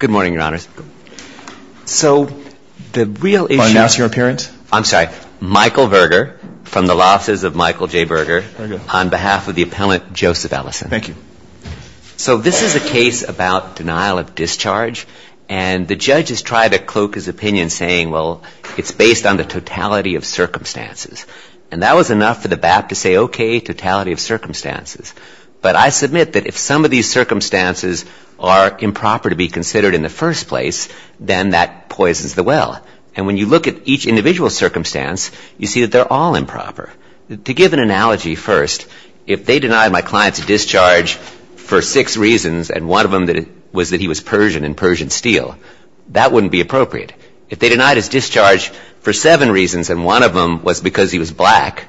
Good morning, Your Honors. So, the real issue is Find out your appearance. I'm sorry. Michael Berger, from the Losses of Michael J. Berger, on behalf of the appellant Joseph Ellison. Thank you. So, this is a case about denial of discharge, and the judge has tried to cloak his opinion saying, well, it's based on the totality of circumstances. And that was enough for the case. But I submit that if some of these circumstances are improper to be considered in the first place, then that poisons the well. And when you look at each individual circumstance, you see that they're all improper. To give an analogy first, if they denied my client's discharge for six reasons, and one of them was that he was Persian and Persian steel, that wouldn't be appropriate. If they denied his discharge for seven reasons, and one of them was because he was black,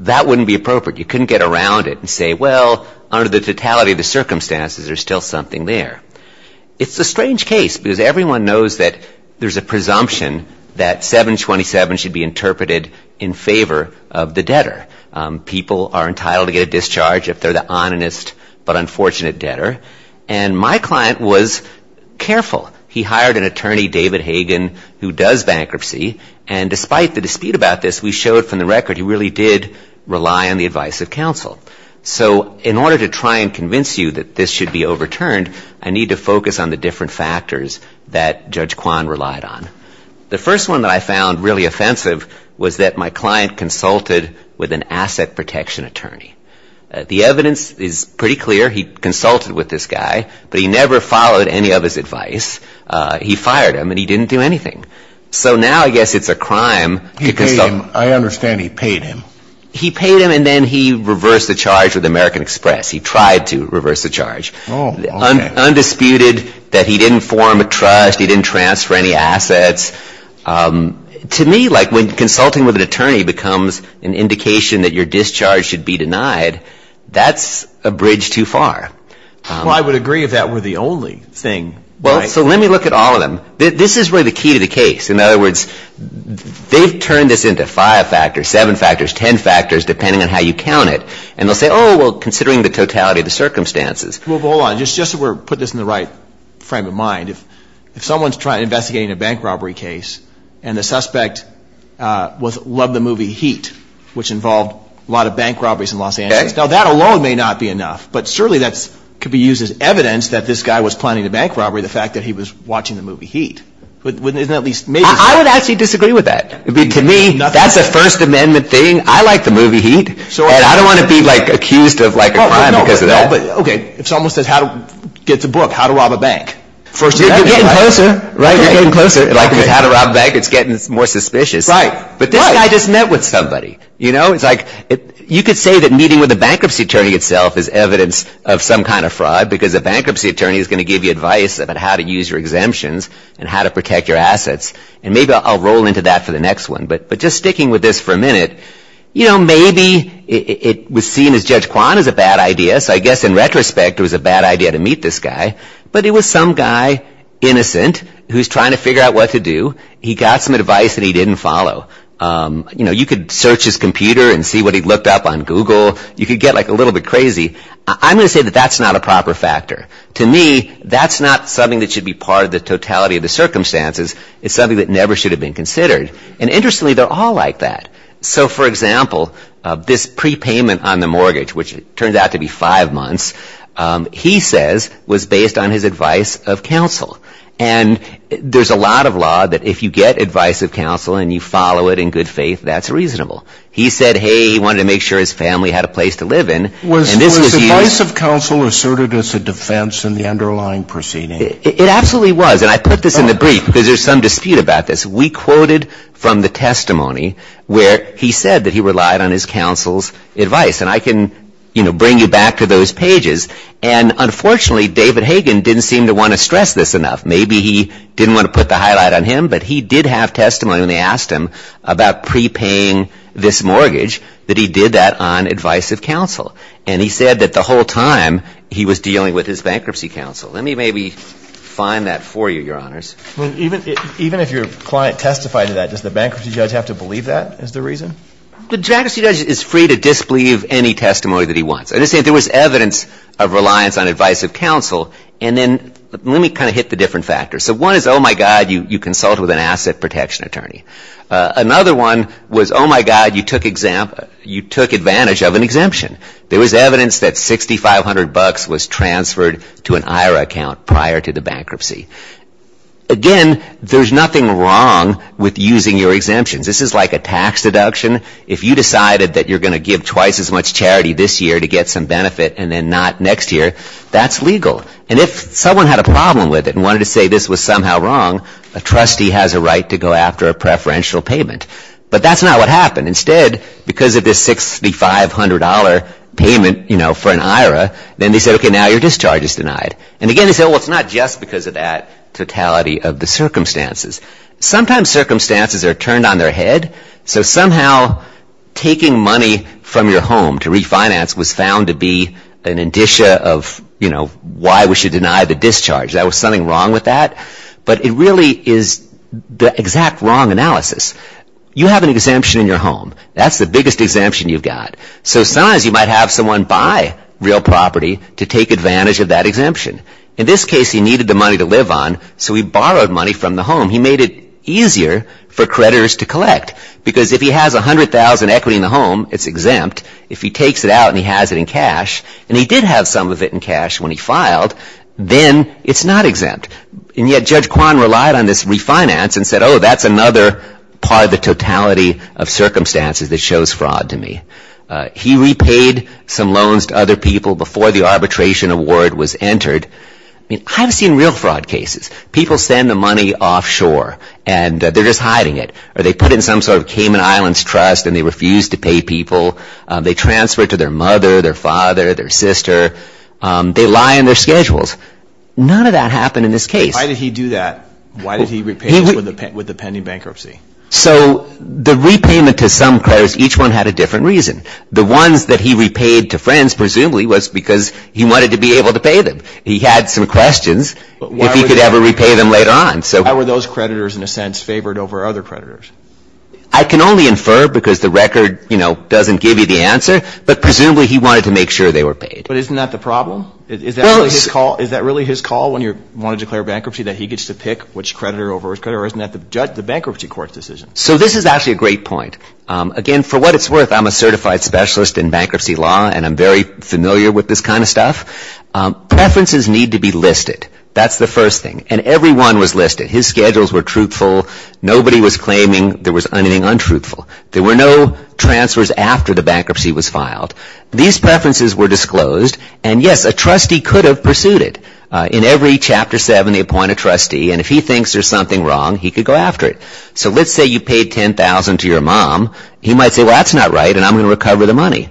that wouldn't be appropriate. You couldn't get around it and say, well, under the totality of the circumstances, there's still something there. It's a strange case, because everyone knows that there's a presumption that 727 should be interpreted in favor of the debtor. People are entitled to get a discharge if they're the onanist but unfortunate debtor. And my client was careful. He hired an attorney, David Hagan, who does bankruptcy. And despite the dispute about this, we showed from the advice of counsel. So in order to try and convince you that this should be overturned, I need to focus on the different factors that Judge Kwan relied on. The first one that I found really offensive was that my client consulted with an asset protection attorney. The evidence is pretty clear. He consulted with this guy, but he never followed any of his advice. He fired him, and he didn't do anything. So now I guess it's a crime to consult. He paid him. I understand he paid him. He paid him, and then he reversed the charge with American Express. He tried to reverse the charge. Undisputed, that he didn't form a trust, he didn't transfer any assets. To me, like, when consulting with an attorney becomes an indication that your discharge should be denied, that's a bridge too far. Well, I would agree if that were the only thing. Well, so let me look at all of them. This is really the key to the case. In other words, they've turned this into five factors, seven factors, ten factors, depending on how you count it. And they'll say, oh, well, considering the totality of the circumstances. Well, hold on. Just so we're putting this in the right frame of mind, if someone's investigating a bank robbery case, and the suspect loved the movie Heat, which involved a lot of bank robberies in Los Angeles. Now, that alone may not be enough, but surely that could be used as evidence that this guy was planning a bank robbery, the fact that he was watching the movie Heat. I would actually disagree with that. To me, that's a First Amendment thing. I like the movie Heat, and I don't want to be accused of a crime because of that. Okay, it's almost as how to get to book, how to rob a bank. You're getting closer, right? You're getting closer. Like, because how to rob a bank, it's getting more suspicious. Right. But this guy just met with somebody, you know? It's like, you could say that meeting with a bankruptcy attorney itself is evidence of some kind of fraud, because a bankruptcy attorney is going to give you advice about how to use your exemptions and how to protect your assets. And maybe I'll roll into that for the next one, but just sticking with this for a minute, you know, maybe it was seen as Judge Kwan is a bad idea, so I guess in retrospect, it was a bad idea to meet this guy. But it was some guy, innocent, who's trying to figure out what to do. He got some advice that he didn't follow. You know, you could search his computer and see what he looked up on Google. You could get, like, a little bit crazy. I'm going to say that that's not a proper factor. To me, that's not something that should be part of the totality of the circumstances. It's something that never should have been considered. And interestingly, they're all like that. So, for example, this prepayment on the mortgage, which turns out to be five months, he says was based on his advice of counsel. And there's a lot of law that if you get advice of counsel and you follow it in good faith, that's reasonable. He said, hey, he wanted to make sure his family had a place to live in. Was advice of counsel asserted as a defense in the underlying proceeding? It absolutely was. And I put this in the brief because there's some dispute about this. We quoted from the testimony where he said that he relied on his counsel's advice. And I can, you know, bring you back to those pages. And unfortunately, David Hagen didn't seem to want to stress this enough. Maybe he didn't want to put the highlight on him, but he did have testimony when they And he said that the whole time he was dealing with his bankruptcy counsel. Let me maybe find that for you, Your Honors. Even if your client testified to that, does the bankruptcy judge have to believe that is the reason? The bankruptcy judge is free to disbelieve any testimony that he wants. I'm just saying there was evidence of reliance on advice of counsel. And then let me kind of hit the different factors. So one is, oh, my God, you consulted with an asset protection attorney. Another one was, oh, my God, you took advantage of an exemption. There was evidence that $6,500 was transferred to an IRA account prior to the bankruptcy. Again, there's nothing wrong with using your exemptions. This is like a tax deduction. If you decided that you're going to give twice as much charity this year to get some benefit and then not next year, that's legal. And if someone had a problem with it and wanted to say this was somehow wrong, a trustee has a right to go after a preferential payment. But that's not what happened. Instead, because of this $6,500 payment for an IRA, then they said, okay, now your discharge is denied. And again, they said, well, it's not just because of that totality of the circumstances. Sometimes circumstances are turned on their head. So somehow taking money from your home to refinance was found to be an indicia of why we should deny the discharge. There was something wrong with that. But it really is the exact wrong analysis. You have an exemption in your home. That's the biggest exemption you've got. So sometimes you might have someone buy real property to take advantage of that exemption. In this case, he needed the money to live on, so he borrowed money from the home. He made it easier for creditors to collect. Because if he has $100,000 equity in the home, it's exempt. If he takes it out and he has it in cash, and he did have some of it in cash when he filed, then it's not exempt. And yet Judge Kwan relied on this refinance and said, oh, that's another part of the totality of circumstances that shows fraud to me. He repaid some loans to other people before the arbitration award was entered. I mean, I've seen real fraud cases. People send the money offshore, and they're just hiding it. Or they put it in some sort of Cayman Islands trust, and they refuse to pay people. They transfer it to their mother, their father, their sister. They lie in their schedules. None of that happened in this case. Why did he do that? Why did he repay with the pending bankruptcy? So the repayment to some creditors, each one had a different reason. The ones that he repaid to friends presumably was because he wanted to be able to pay them. He had some questions if he could ever repay them later on. Why were those creditors, in a sense, favored over other creditors? I can only infer because the record, you know, doesn't give you the answer. But isn't that the problem? Is that really his call when you want to declare bankruptcy, that he gets to pick which creditor over which creditor? Or isn't that the bankruptcy court's decision? So this is actually a great point. Again, for what it's worth, I'm a certified specialist in bankruptcy law, and I'm very familiar with this kind of stuff. Preferences need to be listed. That's the first thing. And every one was listed. His schedules were truthful. Nobody was claiming there was anything untruthful. There were no transfers after the bankruptcy was filed. These preferences were disclosed. And yes, a trustee could have pursued it. In every Chapter 7, they appoint a trustee, and if he thinks there's something wrong, he could go after it. So let's say you paid $10,000 to your mom. He might say, well, that's not right, and I'm going to recover the money.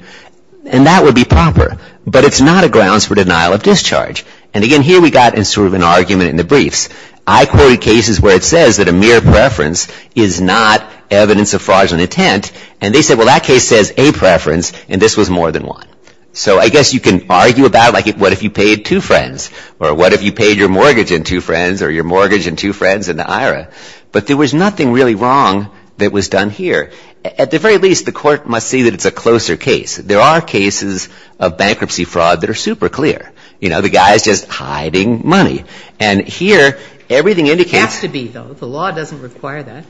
And that would be proper. But it's not a grounds for denial of discharge. And again, here we got sort of an argument in the briefs. I quoted cases where it says that a mere preference is not evidence of fraudulent intent, and they said, well, that case says a preference, and this was more than one. So I guess you can argue about, like, what if you paid two friends? Or what if you paid your mortgage and two friends, or your mortgage and two friends in the IRA? But there was nothing really wrong that was done here. At the very least, the Court must see that it's a closer case. There are cases of bankruptcy fraud that are super clear. You know, the guy is just hiding money. And here, everything indicates — It has to be, though. The law doesn't require that.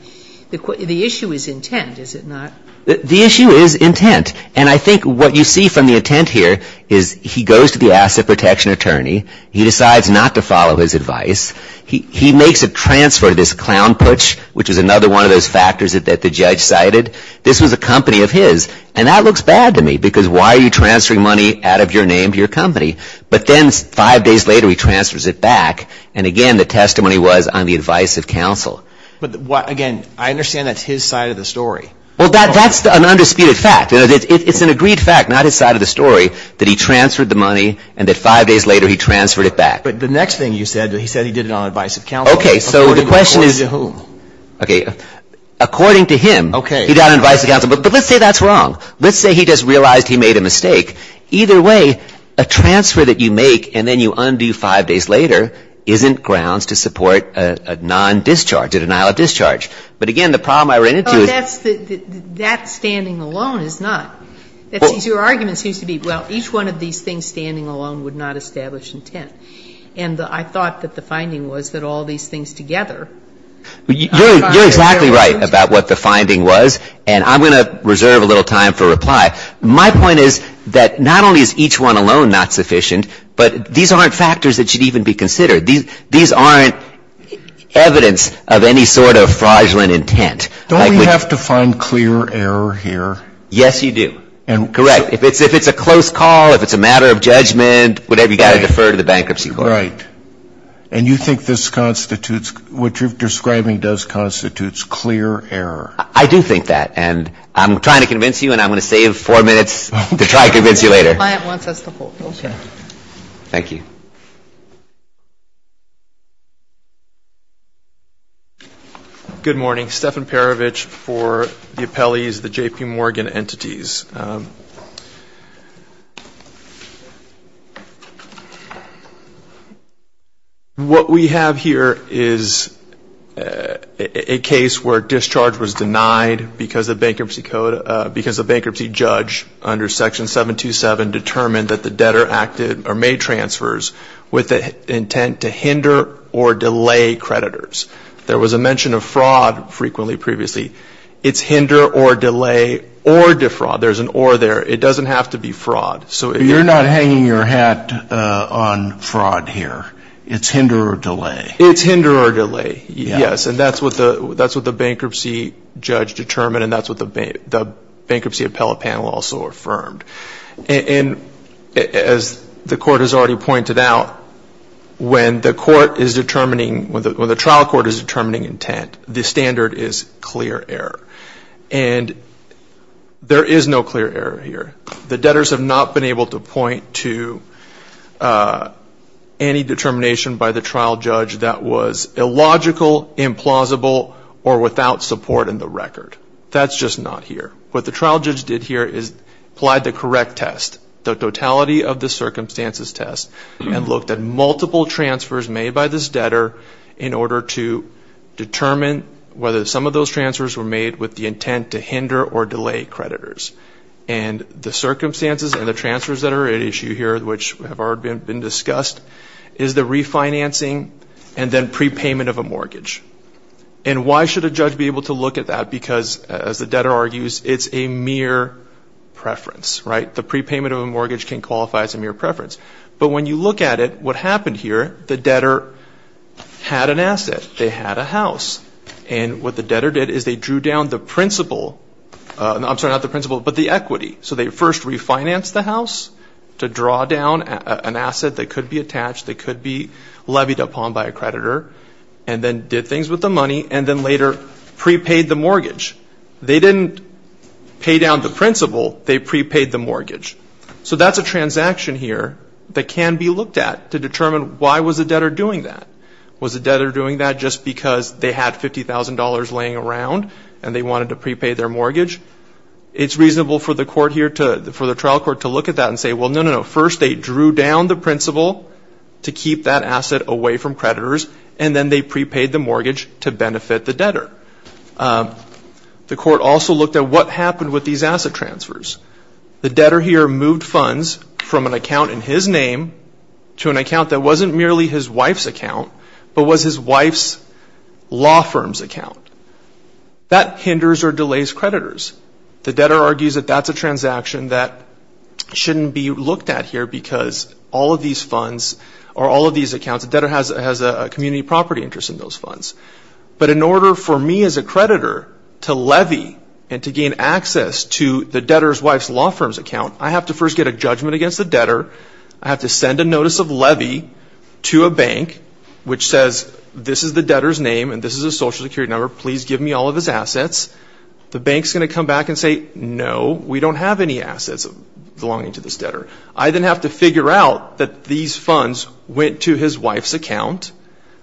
The issue is intent, is it not? The issue is intent. And I think what you see from the intent here is he goes to the asset protection attorney. He decides not to follow his advice. He makes a transfer to this clown putsch, which is another one of those factors that the judge cited. This was a company of his. And that looks bad to me, because why are you transferring money out of your name to your company? But then five days later, he transfers it back. And again, the testimony was on the advice of counsel. But again, I understand that's his side of the story. Well, that's an undisputed fact. It's an agreed fact, not his side of the story, that he transferred the money and that five days later he transferred it back. But the next thing you said, he said he did it on advice of counsel. Okay. So the question is — According to whom? Okay. According to him. Okay. He did it on advice of counsel. But let's say that's wrong. Let's say he just realized he made a mistake. Either way, a transfer that you make and then you undo five days later isn't grounds to support a non-discharge, a denial of discharge. But again, the problem I ran into — But that's — that standing alone is not. Your argument seems to be, well, each one of these things standing alone would not establish intent. And I thought that the finding was that all these things together — You're exactly right about what the finding was. And I'm going to reserve a little time for reply. My point is that not only is each one alone not sufficient, but these aren't factors that should even be considered. These aren't evidence of any sort of fraudulent intent. Don't we have to find clear error here? Yes, you do. Correct. If it's a close call, if it's a matter of judgment, whatever, you've got to defer to the bankruptcy court. Right. And you think this constitutes — what you're describing does constitutes clear error. I do think that. And I'm trying to convince you, and I'm going to save four minutes to try to convince you later. The client wants us to hold. Okay. Thank you. Thank you. Good morning. Stefan Perovich for the appellees, the J.P. Morgan entities. What we have here is a case where discharge was denied because the bankruptcy judge under Section 727 determined that the debtor acted or made transfers with the intent to hinder or delay creditors. There was a mention of fraud frequently previously. It's hinder or delay or defraud. There's an or there. It doesn't have to be fraud. You're not hanging your hat on fraud here. It's hinder or delay. It's hinder or delay, yes. And that's what the bankruptcy judge determined, and that's what the bankruptcy appellate panel also affirmed. And as the court has already pointed out, when the court is determining, when the trial court is determining intent, the standard is clear error. And there is no clear error here. The debtors have not been able to point to any determination by the trial judge that was illogical, implausible, or without support in the record. That's just not here. What the trial judge did here is applied the correct test, the totality of the circumstances test, and looked at multiple transfers made by this debtor in order to determine whether some of those transfers were made with the intent to hinder or delay creditors. And the circumstances and the transfers that are at issue here, which have already been discussed, is the refinancing and then prepayment of a mortgage. And why should a judge be able to look at that? Because, as the debtor argues, it's a mere preference, right? The prepayment of a mortgage can qualify as a mere preference. But when you look at it, what happened here, the debtor had an asset. They had a house. And what the debtor did is they drew down the principle, I'm sorry, not the principle, but the equity. So they first refinanced the house to draw down an asset that could be attached, that could be levied upon by a creditor, and then did things with the money, and then later prepaid the mortgage. They didn't pay down the principle. They prepaid the mortgage. So that's a transaction here that can be looked at to determine why was the debtor doing that. Was the debtor doing that just because they had $50,000 laying around and they wanted to prepay their mortgage? It's reasonable for the trial court to look at that and say, well, no, no, no. But they drew down the principle to keep that asset away from creditors, and then they prepaid the mortgage to benefit the debtor. The court also looked at what happened with these asset transfers. The debtor here moved funds from an account in his name to an account that wasn't merely his wife's account, but was his wife's law firm's account. That hinders or delays creditors. The debtor argues that that's a transaction that shouldn't be looked at here because all of these funds or all of these accounts, the debtor has a community property interest in those funds. But in order for me as a creditor to levy and to gain access to the debtor's wife's law firm's account, I have to first get a judgment against the debtor. I have to send a notice of levy to a bank which says this is the debtor's name and this is his social security number. Please give me all of his assets. The bank is going to come back and say, no, we don't have any assets belonging to this debtor. I then have to figure out that these funds went to his wife's account.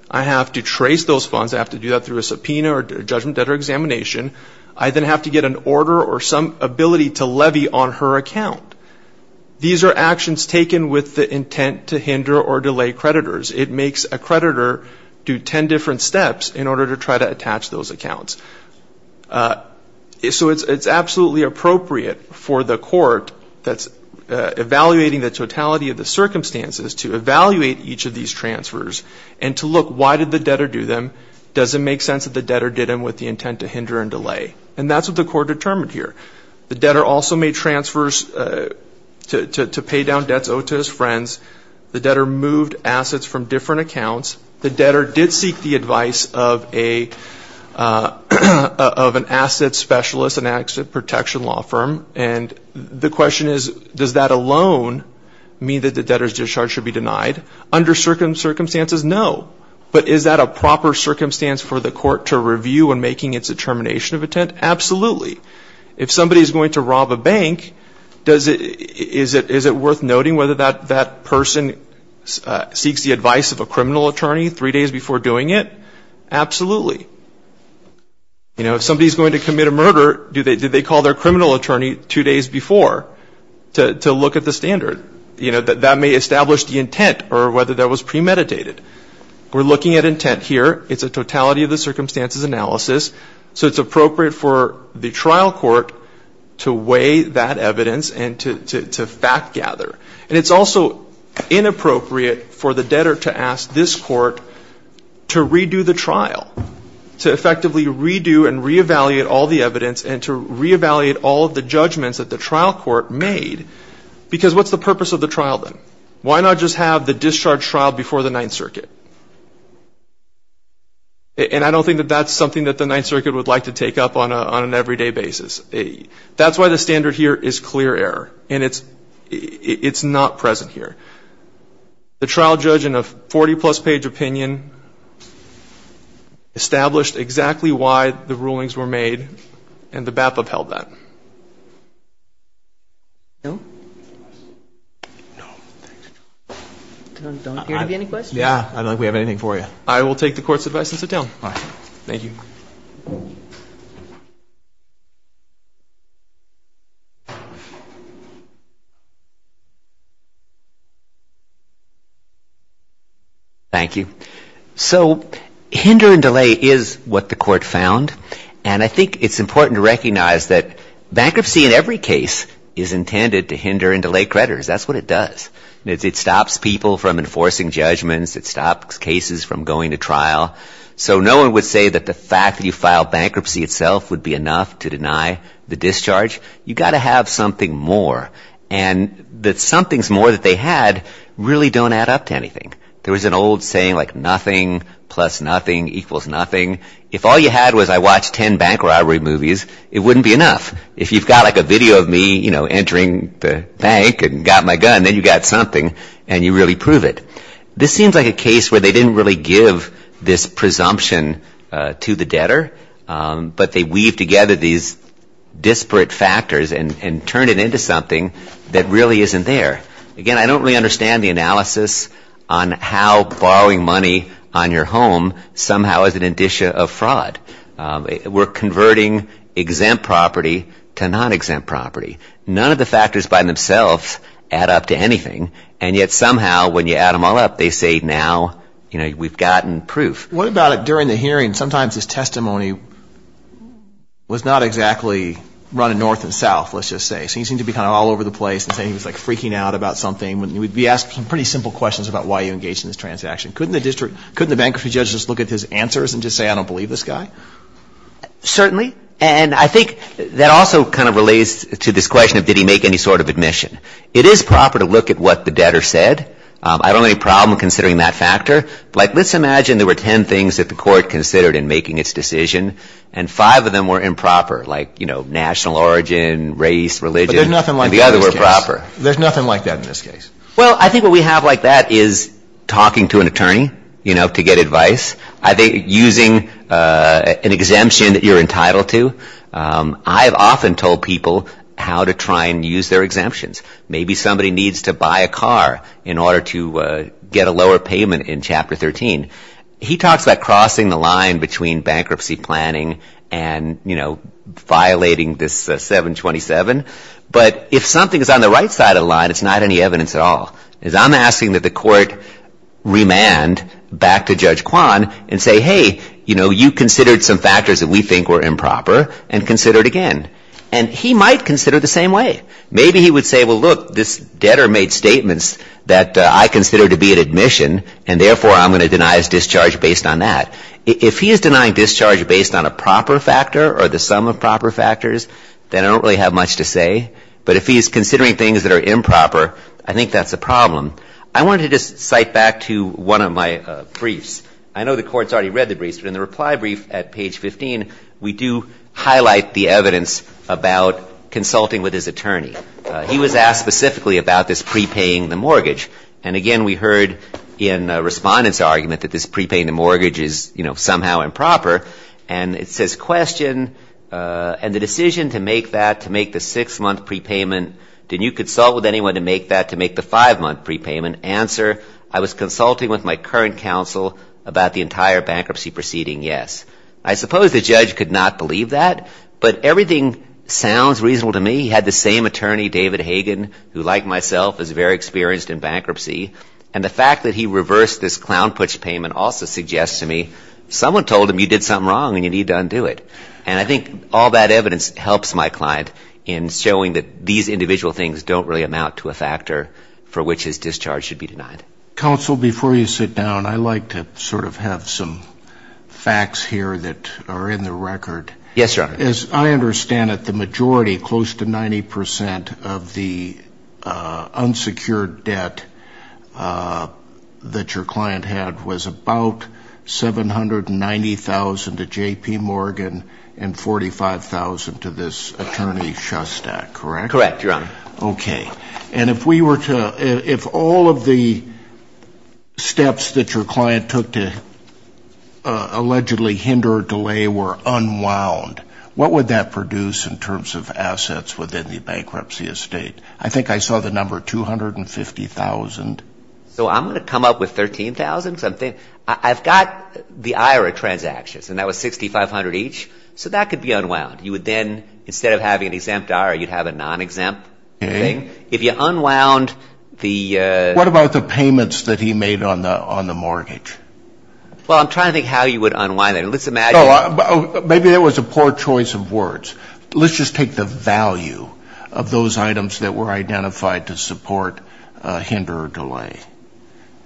I have to trace those funds. I have to do that through a subpoena or a judgment debtor examination. I then have to get an order or some ability to levy on her account. These are actions taken with the intent to hinder or delay creditors. It makes a creditor do ten different steps in order to try to attach those accounts. So it's absolutely appropriate for the court that's evaluating the totality of the circumstances to evaluate each of these transfers and to look, why did the debtor do them? Does it make sense that the debtor did them with the intent to hinder and delay? And that's what the court determined here. The debtor also made transfers to pay down debts owed to his friends. The debtor moved assets from different accounts. The debtor did seek the advice of an asset specialist, an asset protection law firm. And the question is, does that alone mean that the debtor's discharge should be denied? Under certain circumstances, no. But is that a proper circumstance for the court to review in making its determination of intent? Absolutely. If somebody's going to rob a bank, is it worth noting whether that person seeks the advice of a criminal attorney three days before doing it? Absolutely. If somebody's going to commit a murder, do they call their criminal attorney two days before to look at the standard? That may establish the intent or whether that was premeditated. We're looking at intent here. It's a totality of the circumstances analysis. So it's appropriate for the trial court to weigh that evidence and to fact gather. And it's also inappropriate for the debtor to ask this court to redo the trial, to effectively redo and re-evaluate all the evidence and to re-evaluate all of the judgments that the trial court made. Because what's the purpose of the trial then? Why not just have the discharge trial before the Ninth Circuit? And I don't think that that's something that the Ninth Circuit would like to take up on an everyday basis. That's why the standard here is clear error. And it's not present here. The trial judge in a 40-plus page opinion established exactly why the rulings were made, and the BAPA upheld that. No? No. Don't appear to be any questions. Yeah. I don't think we have anything for you. I will take the court's advice and sit down. All right. Thank you. Thank you. So hinder and delay is what the court found. And I think it's important to recognize that bankruptcy in every case is intended to hinder and delay creditors. That's what it does. It stops people from enforcing judgments. It stops cases from going to trial. So no one would say that the fact that you filed bankruptcy itself would be enough to deny the discharge. You've got to have something more. And the somethings more that they had really don't add up to anything. There was an old saying like nothing plus nothing equals nothing. If all you had was I watched 10 bank robbery movies, it wouldn't be enough. If you've got like a video of me, you know, entering the bank and got my gun, then you've got something and you really prove it. This seems like a case where they didn't really give this presumption to the debtor, but they weaved together these disparate factors and turned it into something that really isn't there. Again, I don't really understand the analysis on how borrowing money on your home somehow is an indicia of fraud. We're converting exempt property to non-exempt property. None of the factors by themselves add up to anything. And yet somehow when you add them all up, they say now, you know, we've gotten proof. What about during the hearing, sometimes his testimony was not exactly running north and south, let's just say. So he seemed to be kind of all over the place and saying he was like freaking out about something. He asked some pretty simple questions about why you engaged in this transaction. Couldn't the district, couldn't the bankruptcy judge just look at his answers and just say I don't believe this guy? Certainly. And I think that also kind of relates to this question of did he make any sort of admission. It is proper to look at what the debtor said. I don't have any problem considering that factor. Like let's imagine there were ten things that the court considered in making its decision, and five of them were improper like, you know, national origin, race, religion. But there's nothing like that in this case. And the other were proper. There's nothing like that in this case. Well, I think what we have like that is talking to an attorney, you know, to get advice. I think using an exemption that you're entitled to. I have often told people how to try and use their exemptions. Maybe somebody needs to buy a car in order to get a lower payment in Chapter 13. He talks about crossing the line between bankruptcy planning and, you know, violating this 727. But if something is on the right side of the line, it's not any evidence at all. Because I'm asking that the court remand back to Judge Kwan and say, hey, you know, you considered some factors that we think were improper and consider it again. And he might consider it the same way. Maybe he would say, well, look, this debtor made statements that I consider to be an admission, and therefore I'm going to deny his discharge based on that. If he is denying discharge based on a proper factor or the sum of proper factors, then I don't really have much to say. But if he is considering things that are improper, I think that's a problem. I wanted to just cite back to one of my briefs. I know the court's already read the briefs, but in the reply brief at page 15, we do highlight the evidence about consulting with his attorney. He was asked specifically about this prepaying the mortgage. And, again, we heard in a respondent's argument that this prepaying the mortgage is, you know, somehow improper. And it says, question, and the decision to make that, to make the six-month prepayment, did you consult with anyone to make that to make the five-month prepayment? Answer, I was consulting with my current counsel about the entire bankruptcy proceeding, yes. I suppose the judge could not believe that, but everything sounds reasonable to me. He had the same attorney, David Hagan, who, like myself, is very experienced in bankruptcy. And the fact that he reversed this clown push payment also suggests to me, someone told him you did something wrong and you need to undo it. And I think all that evidence helps my client in showing that these individual things don't really amount to a factor for which his discharge should be denied. Counsel, before you sit down, I'd like to sort of have some facts here that are in the record. Yes, Your Honor. As I understand it, the majority, close to 90% of the unsecured debt that your client had was about $790,000 to J.P. Morgan and $45,000 to this attorney, Shustak, correct? Correct, Your Honor. Okay. And if we were to, if all of the steps that your client took to allegedly hinder or delay were unwound, what would that produce in terms of assets within the bankruptcy estate? I think I saw the number $250,000. So I'm going to come up with $13,000. I've got the IRA transactions, and that was $6,500 each. So that could be unwound. You would then, instead of having an exempt IRA, you'd have a non-exempt thing. If you unwound the ---- What about the payments that he made on the mortgage? Well, I'm trying to think how you would unwind it. Let's imagine ---- Maybe that was a poor choice of words. Let's just take the value of those items that were identified to support, hinder, or delay.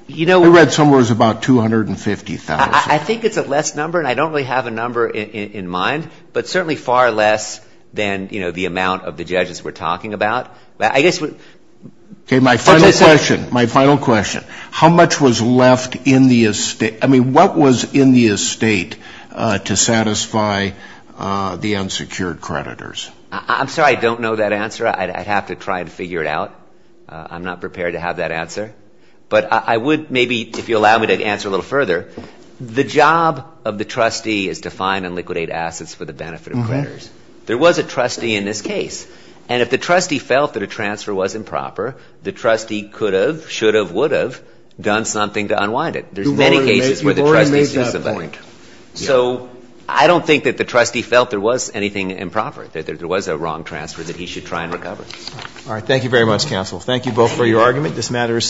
You know ---- I read somewhere it was about $250,000. I think it's a less number, and I don't really have a number in mind, but certainly far less than, you know, the amount of the judges we're talking about. I guess what ---- Okay. My final question. My final question. How much was left in the estate? I mean, what was in the estate to satisfy the unsecured creditors? I'm sorry. I don't know that answer. I'd have to try and figure it out. I'm not prepared to have that answer. But I would maybe if you allow me to answer a little further. The job of the trustee is to find and liquidate assets for the benefit of creditors. There was a trustee in this case. And if the trustee felt that a transfer was improper, the trustee could have, should have, would have done something to unwind it. There's many cases where the trustee is disappointed. You've already made that point. So I don't think that the trustee felt there was anything improper, that there was a wrong transfer that he should try and recover. All right. Thank you very much, counsel. Thank you both for your argument. This matters.